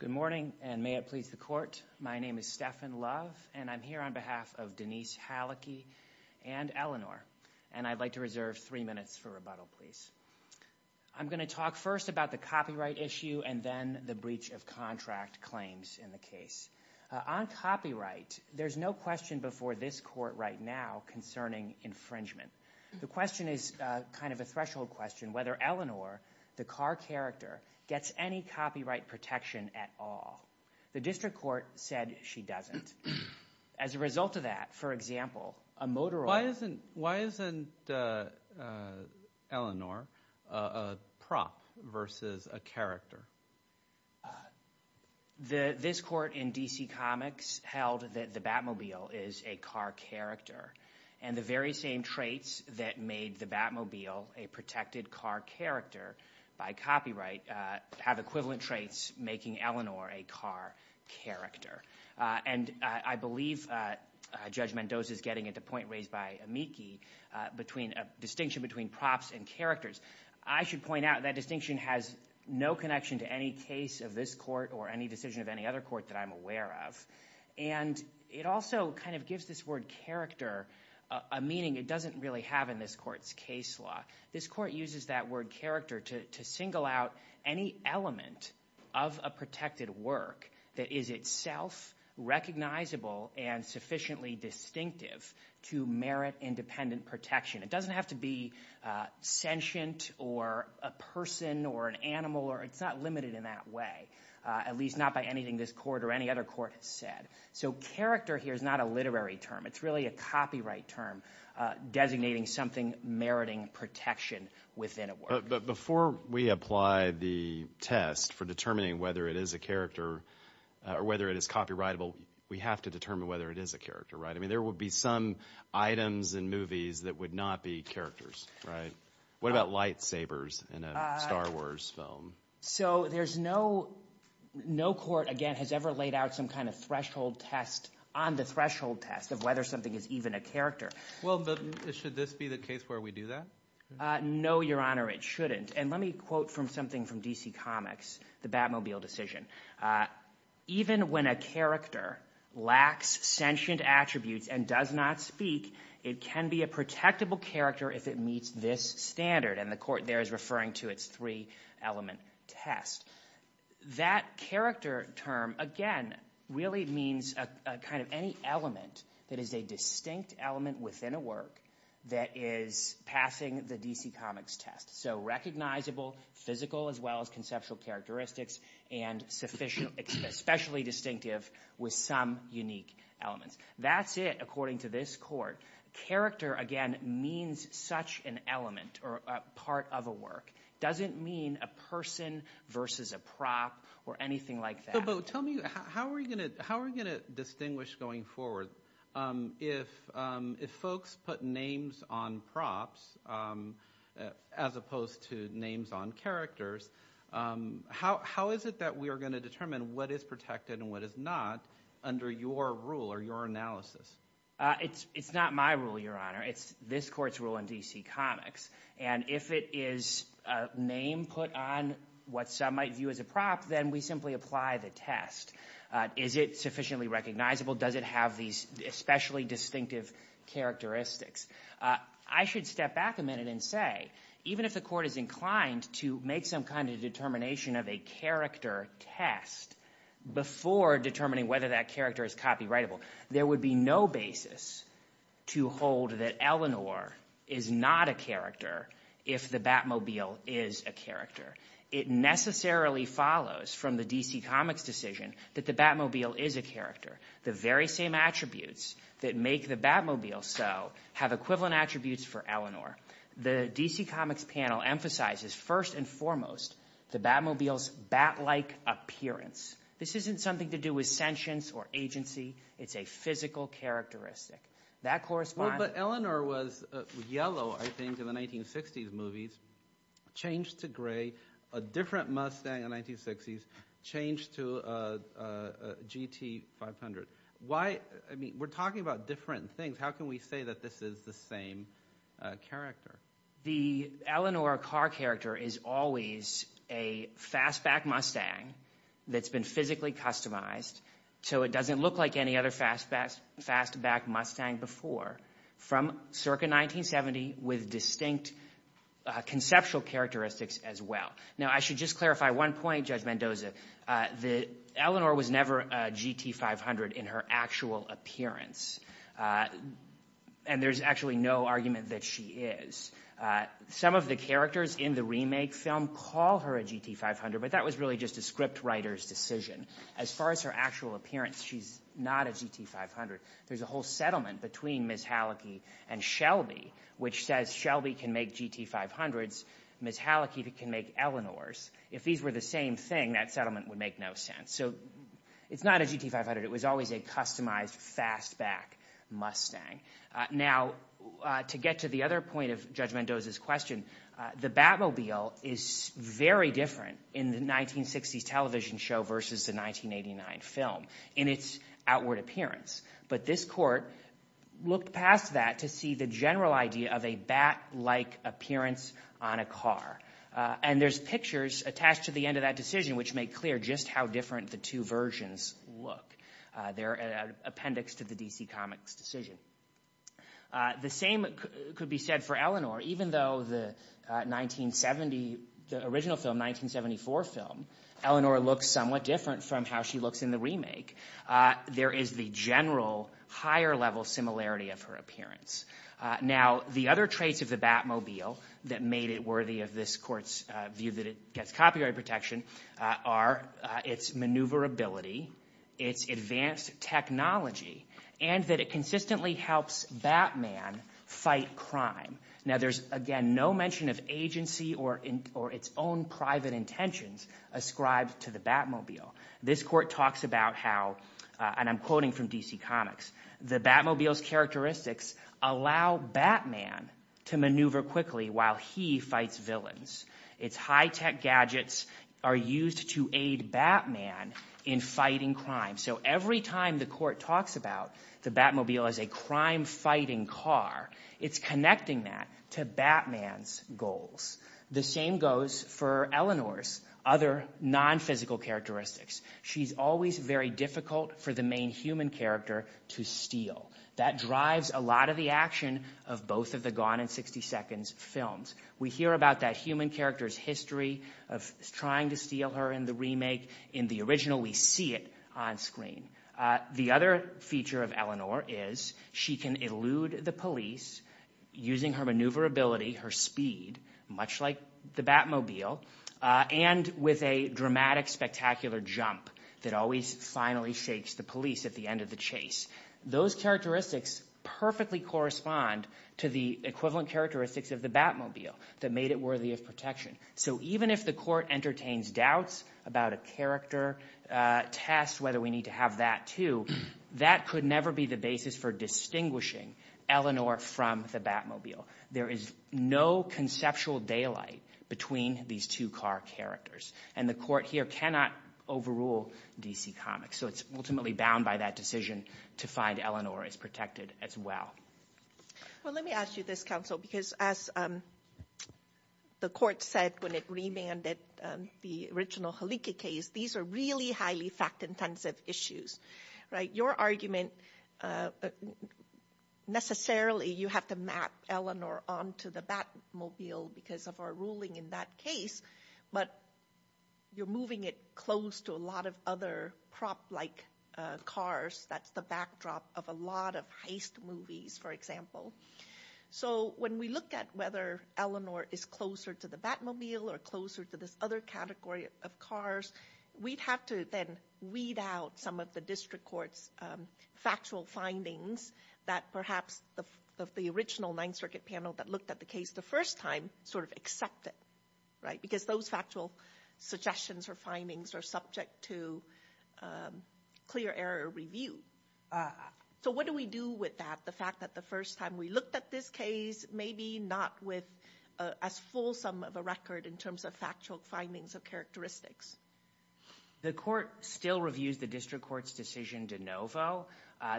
Good morning, and may it please the Court, my name is Stephan Love, and I'm here on behalf of Denise Halicki and Eleanor, and I'd like to reserve three minutes for rebuttal, I'm going to talk first about the copyright issue and then the breach of contract claims in the case. On copyright, there's no question before this Court right now concerning infringement. The question is kind of a threshold question, whether Eleanor, the car character, gets any copyright protection at all. The District Court said she doesn't. As a result of that, for example, a motor oil... Why isn't Eleanor a prop versus a character? This Court in DC Comics held that the Batmobile is a car character, and the very same traits that made the Batmobile a protected car character by copyright have equivalent traits making Eleanor a car character. And I believe Judge Mendoza is getting at the point raised by Amiki between a distinction between props and characters. I should point out that distinction has no connection to any case of this Court or any decision of any other Court that I'm aware of. And it also kind of gives this word character a meaning it doesn't really have in this Court's case law. This Court uses that word character to single out any element of a protected work that is itself recognizable and sufficiently distinctive to merit independent protection. It doesn't have to be sentient or a person or an animal. It's not limited in that way, at least not by anything this Court or any other Court has said. So character here is not a literary term. It's really a copyright term designating something meriting protection within a work. Before we apply the test for determining whether it is a character or whether it is copyrightable, we have to determine whether it is a character, right? I mean, there would be some items in movies that would not be characters, right? What about lightsabers in a Star Wars film? So there's no, no Court, again, has ever laid out some kind of threshold test on the threshold test of whether something is even a character. Well, should this be the case where we do that? No, Your Honor, it shouldn't. And let me quote from something from DC Comics, the Batmobile decision. Even when a character lacks sentient attributes and does not speak, it can be a protectable character if it meets this standard. And the Court there is referring to its three-element test. That character term, again, really means kind of any element that is a distinct element within a work that is passing the DC Comics test. So recognizable, physical, as well as conceptual characteristics, and especially distinctive with some unique elements. That's it, according to this Court. Character, again, means such an element or a part of a work. Doesn't mean a person versus a prop or anything like that. But tell me, how are we going to distinguish going forward if folks put names on props as opposed to names on characters, how is it that we are going to determine what is protected and what is not under your rule or your analysis? It's not my rule, Your Honor. It's this Court's rule in DC Comics. And if it is a name put on what some might view as a prop, then we simply apply the test. Is it sufficiently recognizable? Does it have these especially distinctive characteristics? I should step back a minute and say, even if the Court is inclined to make some kind of determination of a character test before determining whether that character is copyrightable, there would be no basis to hold that Eleanor is not a character if the Batmobile is a character. It necessarily follows from the DC Comics decision that the Batmobile is a character. The very same attributes that make the Batmobile so have equivalent attributes for Eleanor. The DC Comics panel emphasizes first and foremost the Batmobile's bat-like appearance. This isn't something to do with sentience or agency. It's a physical characteristic. That corresponds- But Eleanor was yellow, I think, in the 1960s movies, changed to gray, a different Mustang in the 1960s, changed to a GT 500. Why- I mean, we're talking about different things. How can we say that this is the same character? The Eleanor car character is always a fastback Mustang that's been physically customized so it doesn't look like any other fastback Mustang before from circa 1970 with distinct conceptual characteristics as well. Now, I should just clarify one point, Judge Mendoza. Eleanor was never a GT 500 in her actual appearance. And there's actually no argument that she is. Some of the characters in the remake film call her a GT 500, but that was really just a script writer's decision. As far as her actual appearance, she's not a GT 500. There's a whole settlement between Miss Hallecky and Shelby, which says Shelby can make GT 500s. Miss Hallecky can make Eleanors. If these were the same thing, that settlement would make no sense. So it's not a GT 500. It was always a customized fastback Mustang. Now, to get to the other point of Judge Mendoza's question, the Batmobile is very different in the 1960s television show versus the 1989 film in its outward appearance. But this court looked past that to see the general idea of a bat-like appearance on a car. And there's pictures attached to the end of that decision, which make clear just how different the two versions look. They're an appendix to the DC Comics decision. The same could be said for Eleanor, even though the 1970, the original film, 1974 film, Eleanor looks somewhat different from how she looks in the remake. There is the general higher level similarity of her appearance. Now, the other traits of the Batmobile that made it worthy of this court's view that it gets copyright protection are its maneuverability, its advanced technology, and that it consistently helps Batman fight crime. Now, there's, again, no mention of agency or its own private intentions ascribed to the Batmobile. This court talks about how, and I'm quoting from DC Comics, the Batmobile's characteristics allow Batman to maneuver quickly while he fights villains. Its high-tech gadgets are used to aid Batman in fighting crime. So every time the court talks about the Batmobile as a crime-fighting car, it's connecting that to Batman's goals. The same goes for Eleanor's other non-physical characteristics. She's always very difficult for the main human character to steal. That drives a lot of the action of both of the Gone in 60 Seconds films. We hear about that human character's history of trying to steal her in the remake. In the original, we see it on screen. The other feature of Eleanor is she can elude the police using her maneuverability, her speed, much like the Batmobile, and with a dramatic, spectacular jump that always finally shakes the police at the end of the chase. Those characteristics perfectly correspond to the equivalent characteristics of the Batmobile that made it worthy of protection. So even if the court entertains doubts about a character test, whether we need to have that too, that could never be the basis for distinguishing Eleanor from the Batmobile. There is no conceptual daylight between these two car characters. And the court here cannot overrule DC Comics. So it's ultimately bound by that decision to find Eleanor as protected as well. Well, let me ask you this, counsel, because as the court said when it remanded the original Haliki case, these are really highly fact-intensive issues, right? Your argument, necessarily you have to map Eleanor onto the Batmobile because of our ruling in that case, but you're moving it close to a lot of other prop-like cars. That's the backdrop of a lot of heist movies, for example. So when we look at whether Eleanor is closer to the Batmobile or closer to this other category of cars, we'd have to then weed out some of the district court's factual findings that perhaps the original Ninth Circuit panel that looked at the case the first time sort of accepted, right? Because those factual suggestions or findings are subject to clear error review. So what do we do with that? The fact that the first time we looked at this case, maybe not with as full sum of a record in terms of factual findings of characteristics. The court still reviews the district court's decision de novo.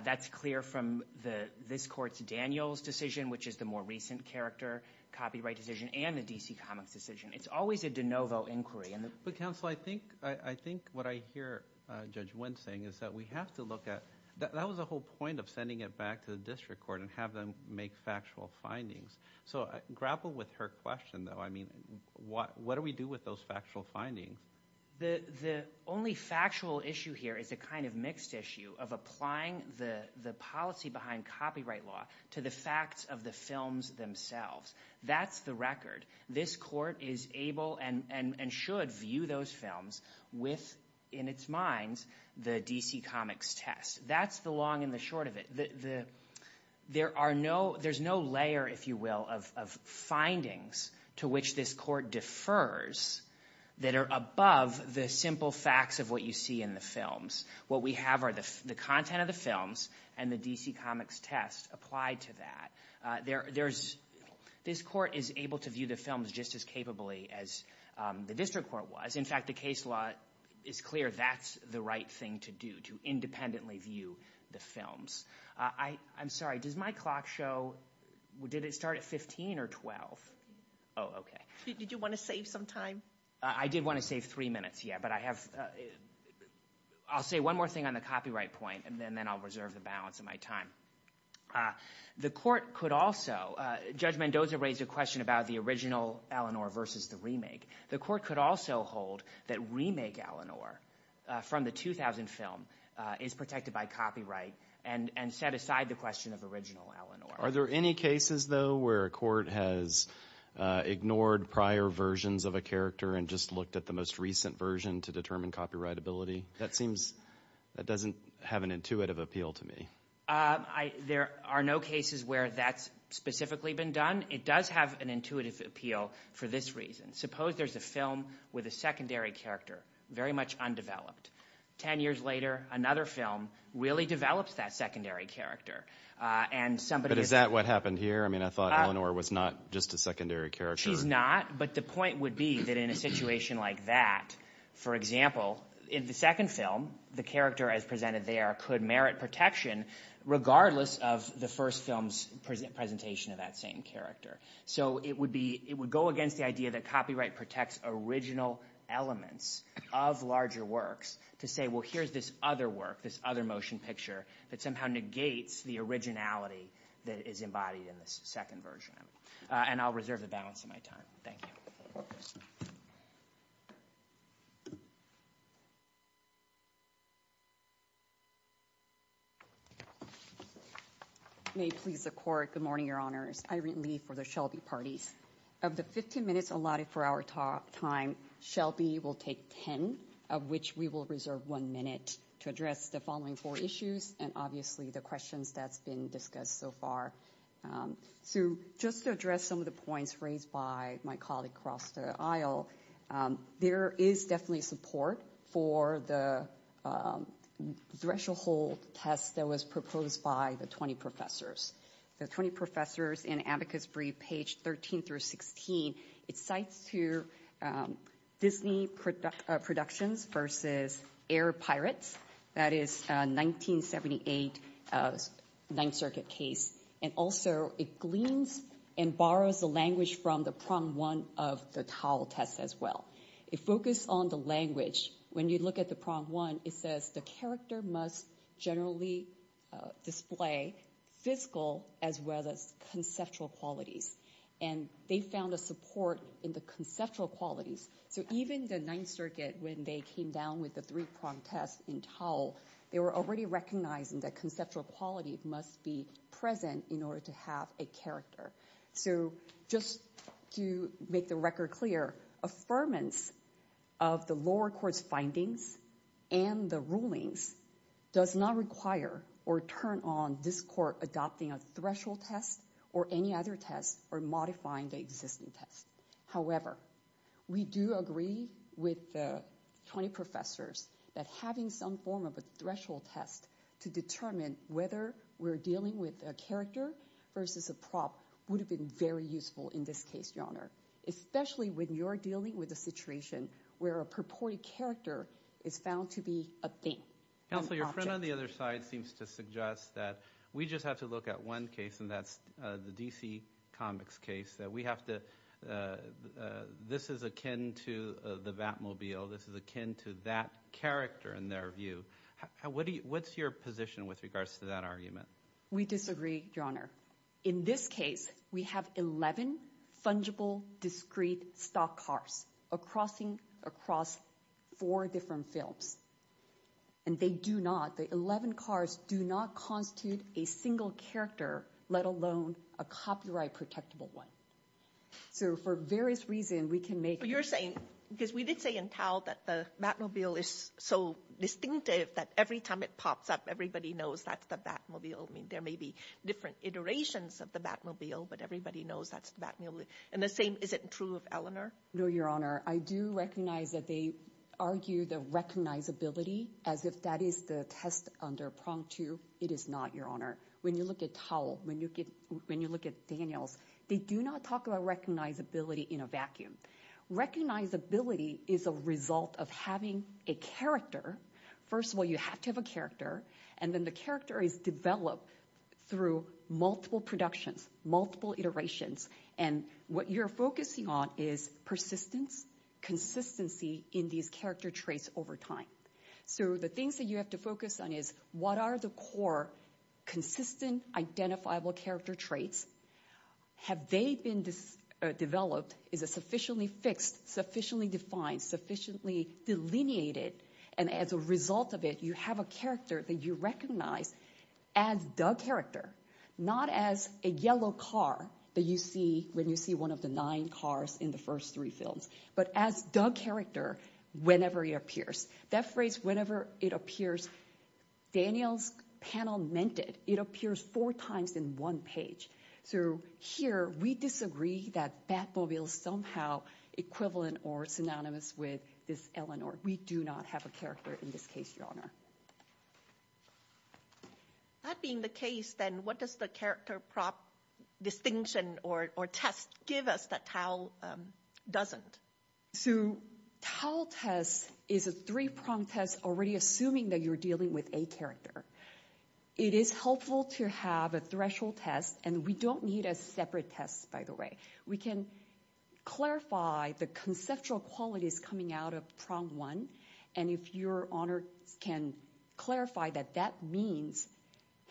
That's clear from this court's Daniels decision, which is the more recent character copyright decision, and the DC Comics decision. It's always a de novo inquiry. But counsel, I think what I hear Judge Wynn saying is that we have to look at, that was the whole point of sending it back to the district court and have them make factual findings. So grapple with her question, though. I mean, what do we do with those factual findings? The only factual issue here is a kind of mixed issue of applying the policy behind copyright law to the facts of the films themselves. That's the record. This court is able and should view those films with, in its minds, the DC Comics test. That's the long and the short of it. There's no layer, if you will, of findings to which this court defers that are above the simple facts of what you see in the films. What we have are the content of the films and the DC Comics test applied to that. This court is able to view the films just as capably as the district court was. In fact, the case law is clear that's the right thing to do, to independently view the films. I'm sorry, does my clock show, did it start at 15 or 12? Oh, okay. Did you want to save some time? I did want to save three minutes, yeah, but I have, I'll say one more thing on the copyright point and then I'll reserve the balance of my time. The court could also, Judge Mendoza raised a question about the original Eleanor versus the remake. The court could also hold that remake Eleanor from the 2000 film is protected by copyright and set aside the question of original Eleanor. Are there any cases though where a court has ignored prior versions of a character and just looked at the most recent version to determine copyrightability? That seems, that doesn't have an intuitive appeal to me. There are no cases where that's specifically been done. It does have an intuitive appeal for this reason. Suppose there's a film with a secondary character, very much undeveloped. Ten years later, another film really develops that secondary character and somebody Is that what happened here? I mean, I thought Eleanor was not just a secondary character. She's not, but the point would be that in a situation like that, for example, in the second film, the character as presented there could merit protection regardless of the first film's presentation of that same character. So it would be, it would go against the idea that copyright protects original elements of larger works to say, well, here's this other work, this other motion picture that somehow negates the originality that is embodied in this second version. And I'll reserve the balance of my time. Thank you. May it please the court. Good morning, your honors. Irene Lee for the Shelby Parties. Of the 15 minutes allotted for our time, Shelby will take 10, of which we will reserve one minute to address the following four issues and obviously the questions that's been discussed so far. So just to address some of the points raised by my colleague across the aisle, there is definitely support for the threshold test that was proposed by the 20 professors. The 20 professors in Abacus Brief, page 13 through 16, it cites two Disney productions versus Air Pirates. That is a 1978 Ninth Circuit case. And also it gleans and borrows the language from the prong one of the towel test as well. It focused on the language. When you look at the prong one, it says the character must generally display physical as well as conceptual qualities. And they found a support in the conceptual qualities. So even the Ninth Circuit, when they came down with the three prong test in towel, they were already recognizing that conceptual quality must be present in order to have a character. So just to make the record clear, affirmance of the lower court's findings and the rulings does not require or turn on this adopting a threshold test or any other test or modifying the existing test. However, we do agree with the 20 professors that having some form of a threshold test to determine whether we're dealing with a character versus a prop would have been very useful in this case, Your Honor. Especially when you're dealing with a situation where a purported character is found to be a thing. Counselor, your friend on the other side seems to suggest that we just have to look at one case and that's the DC Comics case. This is akin to the Batmobile. This is akin to that character in their view. What's your position with regards to that argument? We disagree, Your Honor. In this case, we have 11 fungible discrete stock cars crossing across four different films. And they do not, the 11 cars do not constitute a single character, let alone a copyright protectable one. So for various reasons, we can make- But you're saying, because we did say in Tau that the Batmobile is so distinctive that every time it pops up, everybody knows that's the Batmobile. I mean, there may be different iterations of the Batmobile, but everybody knows that's the Batmobile. And the same, is it true of Eleanor? No, Your Honor. I do recognize that they argue the recognizability as if that is the test under prong two. It is not, Your Honor. When you look at Tau, when you look at Daniels, they do not talk about recognizability in a vacuum. Recognizability is a result of having a character. First of all, you have to have a character. And then the character is developed through multiple productions, multiple iterations. And what you're focusing on is persistence, consistency in these character traits over time. So the things that you have to focus on is, what are the core consistent identifiable character traits? Have they been developed? Is it sufficiently fixed, sufficiently defined, sufficiently delineated? And as a result of it, you have a character that you recognize as the character, not as a yellow car that you see when you see one of the nine cars in the first three films, but as the character whenever he appears. That phrase, whenever it appears, Daniel's panel meant it. It appears four times in one page. So here, we disagree that Batmobile is somehow equivalent or synonymous with this Eleanor. We do not have a character in this case, Your Honor. That being the case, then what does the character prop distinction or test give us that TAL doesn't? So TAL test is a three-pronged test already assuming that you're dealing with a character. It is helpful to have a threshold test, and we don't need a separate test, by the way. We can clarify the conceptual qualities coming out of prong one. And if Your Honor can clarify that that means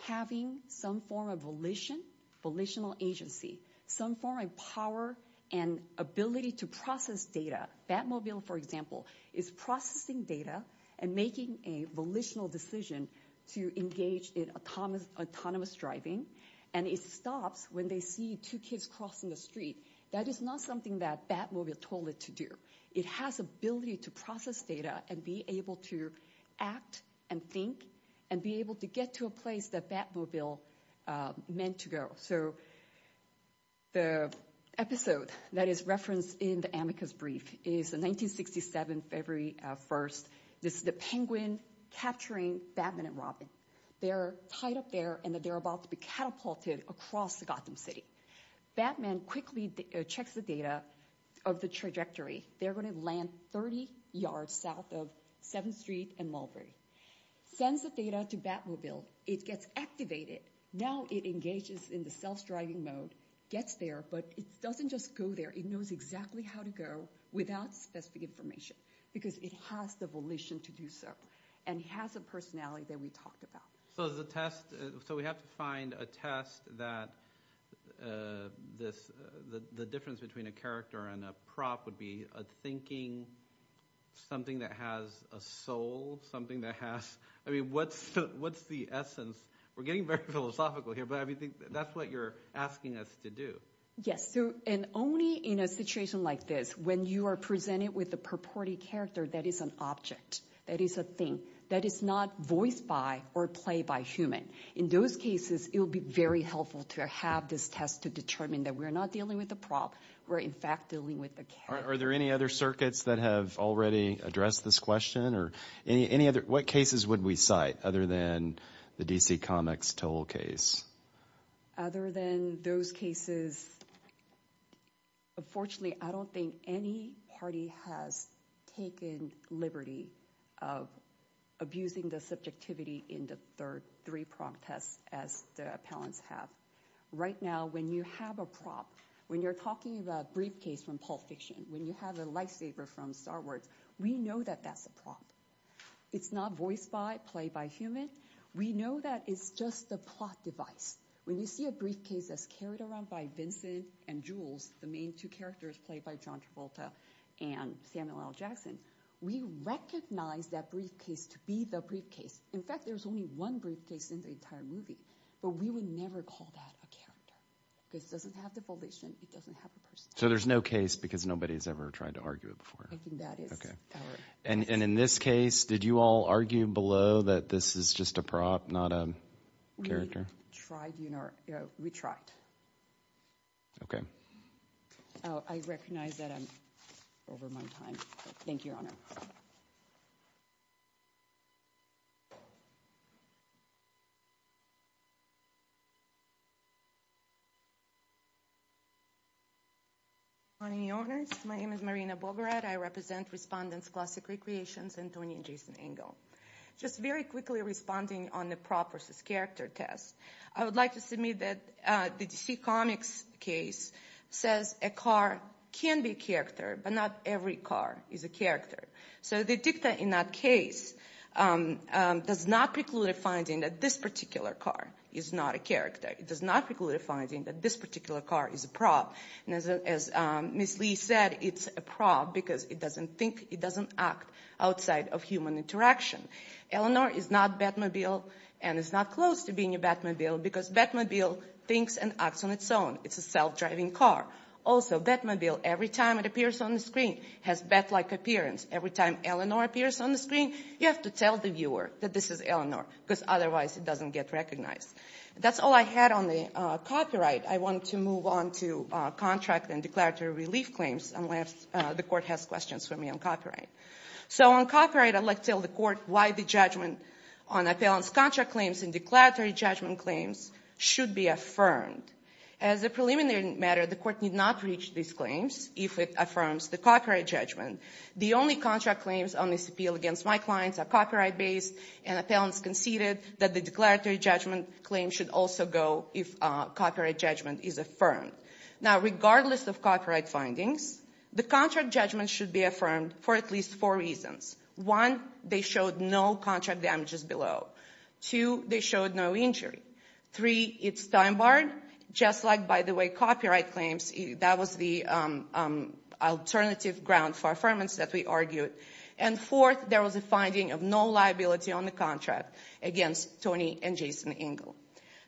having some form of volition, volitional agency, some form of power and ability to process data. Batmobile, for example, is processing data and making a volitional decision to engage in autonomous driving. And it stops when they see two kids crossing the street. That is not something that Batmobile told it to do. It has ability to process data and be able to act and think and be able to get to a place that Batmobile meant to go. So the episode that is referenced in the amicus brief is the 1967, February 1st. This is the Penguin capturing Batman and Robin. They're tied up there and they're about to be catapulted across the Gotham City. Batman quickly checks the data of the trajectory. They're gonna land 30 yards south of 7th Street and Mulberry. Sends the data to Batmobile. It gets activated. Now it engages in the self-driving mode. Gets there, but it doesn't just go there. It knows exactly how to go without specific information because it has the volition to do so and has a personality that we talked about. So the test, so we have to find a test that the difference between a character and a prop would be a thinking, something that has a soul, something that has, I mean, what's the essence? We're getting very philosophical here, but I mean, that's what you're asking us to do. Yes, and only in a situation like this when you are presented with a purported character that is an object, that is a thing that is not voiced by or played by human. In those cases, it will be very helpful to have this test to determine that we're not dealing with a prop we're in fact dealing with a character. Are there any other circuits that have already addressed this question? What cases would we cite other than the DC Comics toll case? Other than those cases, unfortunately, I don't think any party has taken liberty of abusing the subjectivity in the three prop tests as the appellants have. Right now, when you have a prop, when you're talking about briefcase from Pulp Fiction, when you have a lifesaver from Star Wars, we know that that's a prop. It's not voiced by, played by human. We know that it's just the plot device. When you see a briefcase that's carried around by Vincent and Jules, the main two characters played by John Travolta and Samuel L. Jackson, we recognize that briefcase to be the briefcase. In fact, there's only one briefcase in the entire movie, but we would never call that a character because it doesn't have the volition. It doesn't have a personality. So there's no case because nobody's ever tried to argue it before? I think that is our case. And in this case, did you all argue below that this is just a prop, not a character? We tried, you know, we tried. Okay. Oh, I recognize that I'm over my time. Thank you, Your Honor. Good morning, Your Honors. My name is Marina Bogorad. I represent Respondents Classic Recreations and Tony and Jason Engel. Just very quickly responding on the prop versus character test. I would like to submit that the DC Comics case says a car can be a character, but not every car is a character. So the dicta in that case does not preclude a finding that this particular car is not a character. It does not preclude a finding that this particular car is a prop. And as Ms. Lee said, it's a prop because it doesn't think, it doesn't act outside of human interaction. Eleanor is not Batmobile and it's not close to being a Batmobile because Batmobile thinks and acts on its own. It's a self-driving car. Also, Batmobile, every time it appears on the screen, has Bat-like appearance. Every time Eleanor appears on the screen, you have to tell the viewer that this is Eleanor because otherwise it doesn't get recognized. That's all I had on the copyright. I want to move on to contract and declaratory relief claims unless the court has questions for me on copyright. So on copyright, I'd like to tell the court why the judgment on appellant's contract claims and declaratory judgment claims should be affirmed. As a preliminary matter, the court need not reach these claims if it affirms the copyright judgment. The only contract claims on this appeal against my clients are copyright-based and appellants conceded that the declaratory judgment claim should also go if copyright judgment is affirmed. Now, regardless of copyright findings, the contract judgment should be affirmed for at least four reasons. One, they showed no contract damages below. Two, they showed no injury. Three, it's time-barred, just like, by the way, copyright claims. That was the alternative ground for affirmance that we argued. And fourth, there was a finding of no liability on the contract against Tony and Jason Engel.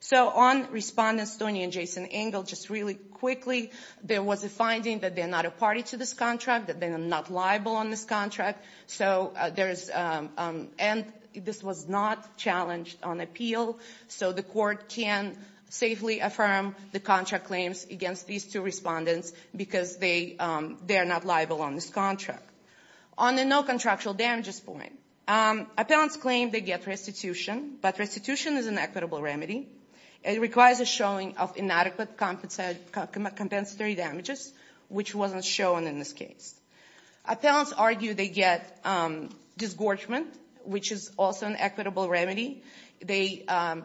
So on respondents Tony and Jason Engel, just really quickly, there was a finding that they're not a party to this contract, that they are not liable on this contract. So there is, and this was not challenged on appeal. So the court can safely affirm the contract claims against these two respondents because they are not liable on this contract. On the no contractual damages point, appellants claim they get restitution, but restitution is an equitable remedy. It requires a showing of inadequate compensatory damages, which wasn't shown in this case. Appellants argue they get disgorgement, which is also an equitable remedy. They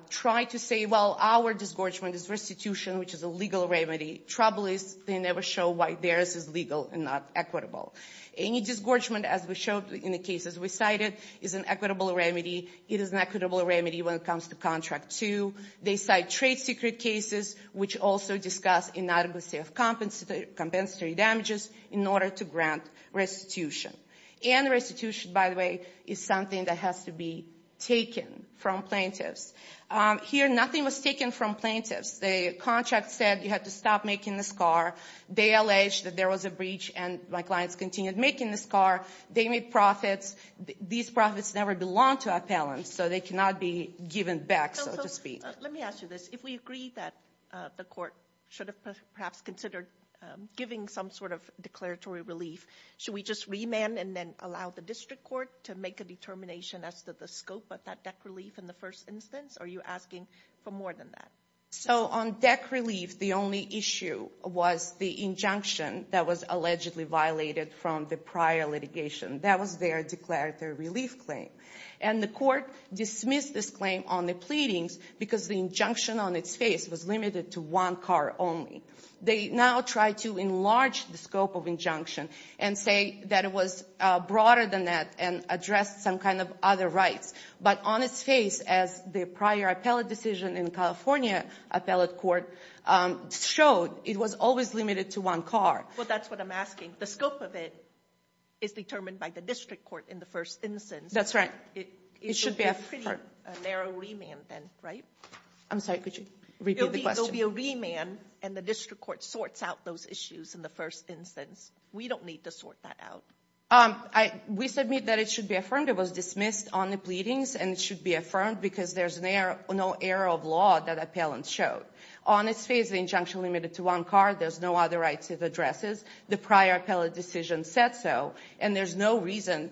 try to say, well, our disgorgement is restitution, which is a legal remedy. Trouble is they never show why theirs is legal and not equitable. Any disgorgement, as we showed in the cases we cited, is an equitable remedy. It is an equitable remedy when it comes to contract two. They cite trade secret cases, which also discuss inadequacy of compensatory damages in order to grant restitution. And restitution, by the way, is something that has to be taken from plaintiffs. Here, nothing was taken from plaintiffs. The contract said you had to stop making this car. They alleged that there was a breach and my clients continued making this car. They made profits. These profits never belong to appellants, so they cannot be given back, so to speak. Let me ask you this. If we agree that the court should have perhaps considered giving some sort of declaratory relief, should we just remand and then allow the district court to make a determination as to the scope of that DEC relief in the first instance? Are you asking for more than that? So on DEC relief, the only issue was the injunction that was allegedly violated from the prior litigation. That was their declaratory relief claim. And the court dismissed this claim on the pleadings because the injunction on its face was limited to one car only. They now try to enlarge the scope of injunction and say that it was broader than that and addressed some kind of other rights. But on its face, as the prior appellate decision in California appellate court showed, it was always limited to one car. Well, that's what I'm asking. The scope of it is determined by the district court in the first instance. That's right. It should be a pretty narrow remand then, right? I'm sorry, could you repeat the question? There will be a remand and the district court sorts out those issues in the first instance. We don't need to sort that out. We submit that it should be affirmed. It was dismissed on the pleadings and it should be affirmed because there's no error of law that appellant showed. On its face, the injunction limited to one car. There's no other rights it addresses. The prior appellate decision said so and there's no reason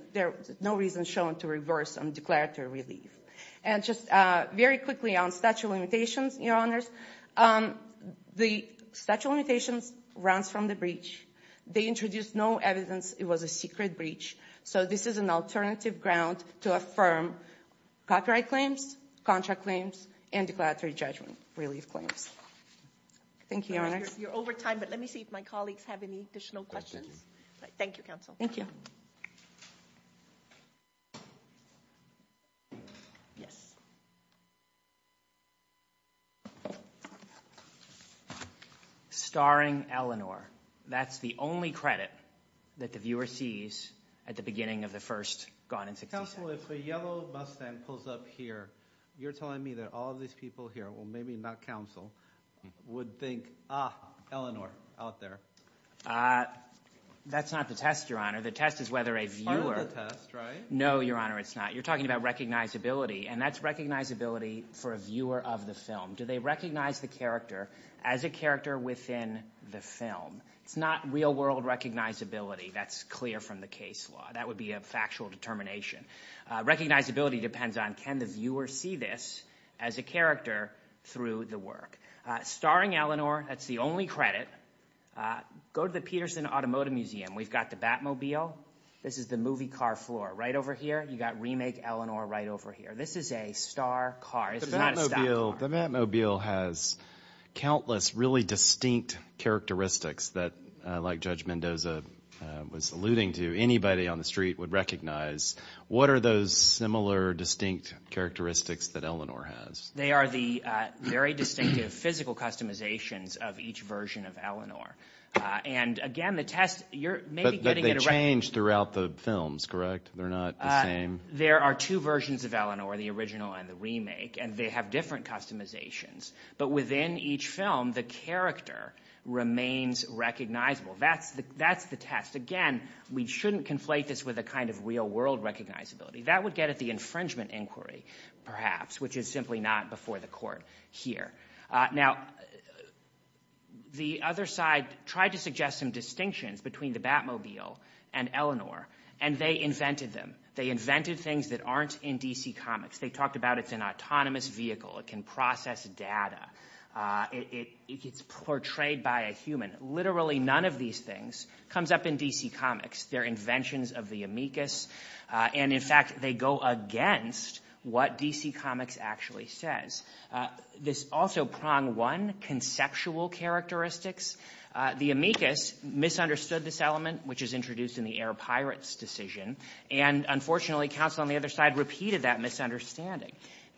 shown to reverse on declaratory relief. And just very quickly on statute of limitations, the statute of limitations runs from the breach. They introduced no evidence it was a secret breach. So this is an alternative ground to affirm copyright claims, contract claims and declaratory judgment relief claims. Thank you, Your Honors. You're over time, but let me see if my colleagues have any additional questions. Thank you, counsel. Thank you. Yes. Starring Eleanor. That's the only credit that the viewer sees at the beginning of the first gone in 60 seconds. Counsel, if a yellow Mustang pulls up here, you're telling me that all of these people here, well, maybe not counsel, would think, ah, Eleanor out there. That's not the test, Your Honor. The test is whether a viewer... It's part of the test, right? No, Your Honor, it's not. You're talking about recognizability and that's recognizability for a viewer of the film. Do they recognize the character as a character within the film? It's not real world recognizability. That's clear from the case law. That would be a factual determination. Recognizability depends on, can the viewer see this as a character through the work? Starring Eleanor, that's the only credit. Go to the Peterson Automotive Museum. We've got the Batmobile. This is the movie car floor right over here. You got remake Eleanor right over here. This is a star car. This is not a stock car. The Batmobile has countless really distinct characteristics that like Judge Mendoza was alluding to, anybody on the street would recognize. What are those similar distinct characteristics that Eleanor has? They are the very distinctive physical customizations of each version of Eleanor. And again, the test, you're maybe getting it right. But they change throughout the films, correct? They're not the same. There are two versions of Eleanor, the original and the remake, and they have different customizations. But within each film, the character remains recognizable. That's the test. Again, we shouldn't conflate this with a kind of real world recognizability. That would get at the infringement inquiry, perhaps, which is simply not before the court here. Now, the other side tried to suggest some distinctions between the Batmobile and Eleanor, and they invented them. They invented things that aren't in DC Comics. They talked about it's an autonomous vehicle. It can process data. It gets portrayed by a human. Literally none of these things comes up in DC Comics. They're inventions of the amicus. And in fact, they go against what DC Comics actually says. This also pronged one conceptual characteristics. The amicus misunderstood this element, which is introduced in the Air Pirates decision. And unfortunately, counsel on the other side repeated that misunderstanding.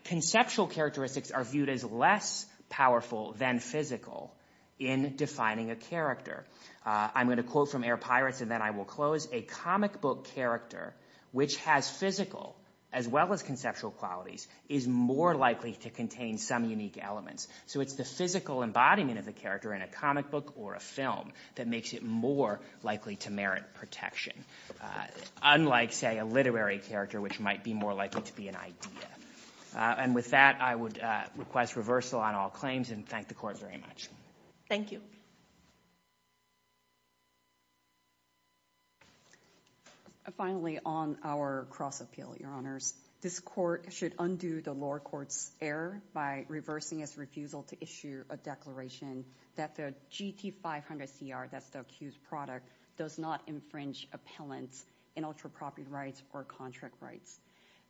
Conceptual characteristics are viewed as less powerful than physical in defining a character. I'm gonna quote from Air Pirates, and then I will close. A comic book character, which has physical as well as conceptual qualities, is more likely to contain some unique elements. So it's the physical embodiment of the character in a comic book or a film that makes it more likely to merit protection. Unlike, say, a literary character, which might be more likely to be an idea. And with that, I would request reversal on all claims and thank the court very much. Thank you. Finally, on our cross appeal, Your Honors, this court should undo the lower court's error by reversing its refusal to issue a declaration that the GT500CR, that's the accused product, does not infringe appellants in ultra property rights or contract rights.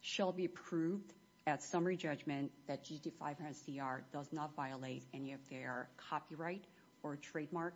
Shall be approved at summary judgment that GT500CR does not violate any of their copyright or trademark.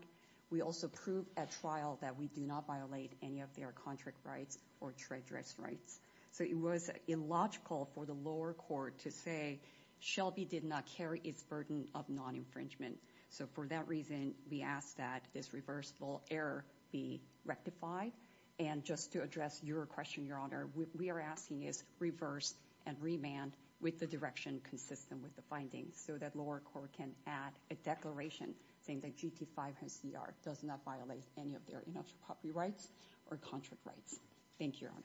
We also prove at trial that we do not violate any of their contract rights or trade rights. So it was illogical for the lower court to say, Shelby did not carry its burden of non-infringement. So for that reason, we ask that this reversible error be rectified. And just to address your question, Your Honor, we are asking is reversed and remand with the direction consistent with the findings so that lower court can add a declaration saying that GT500CR does not violate any of their intellectual property rights or contract rights. Thank you, Your Honors.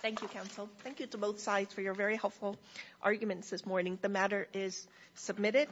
Thank you, counsel. Thank you to both sides for your very helpful arguments this morning. The matter is submitted.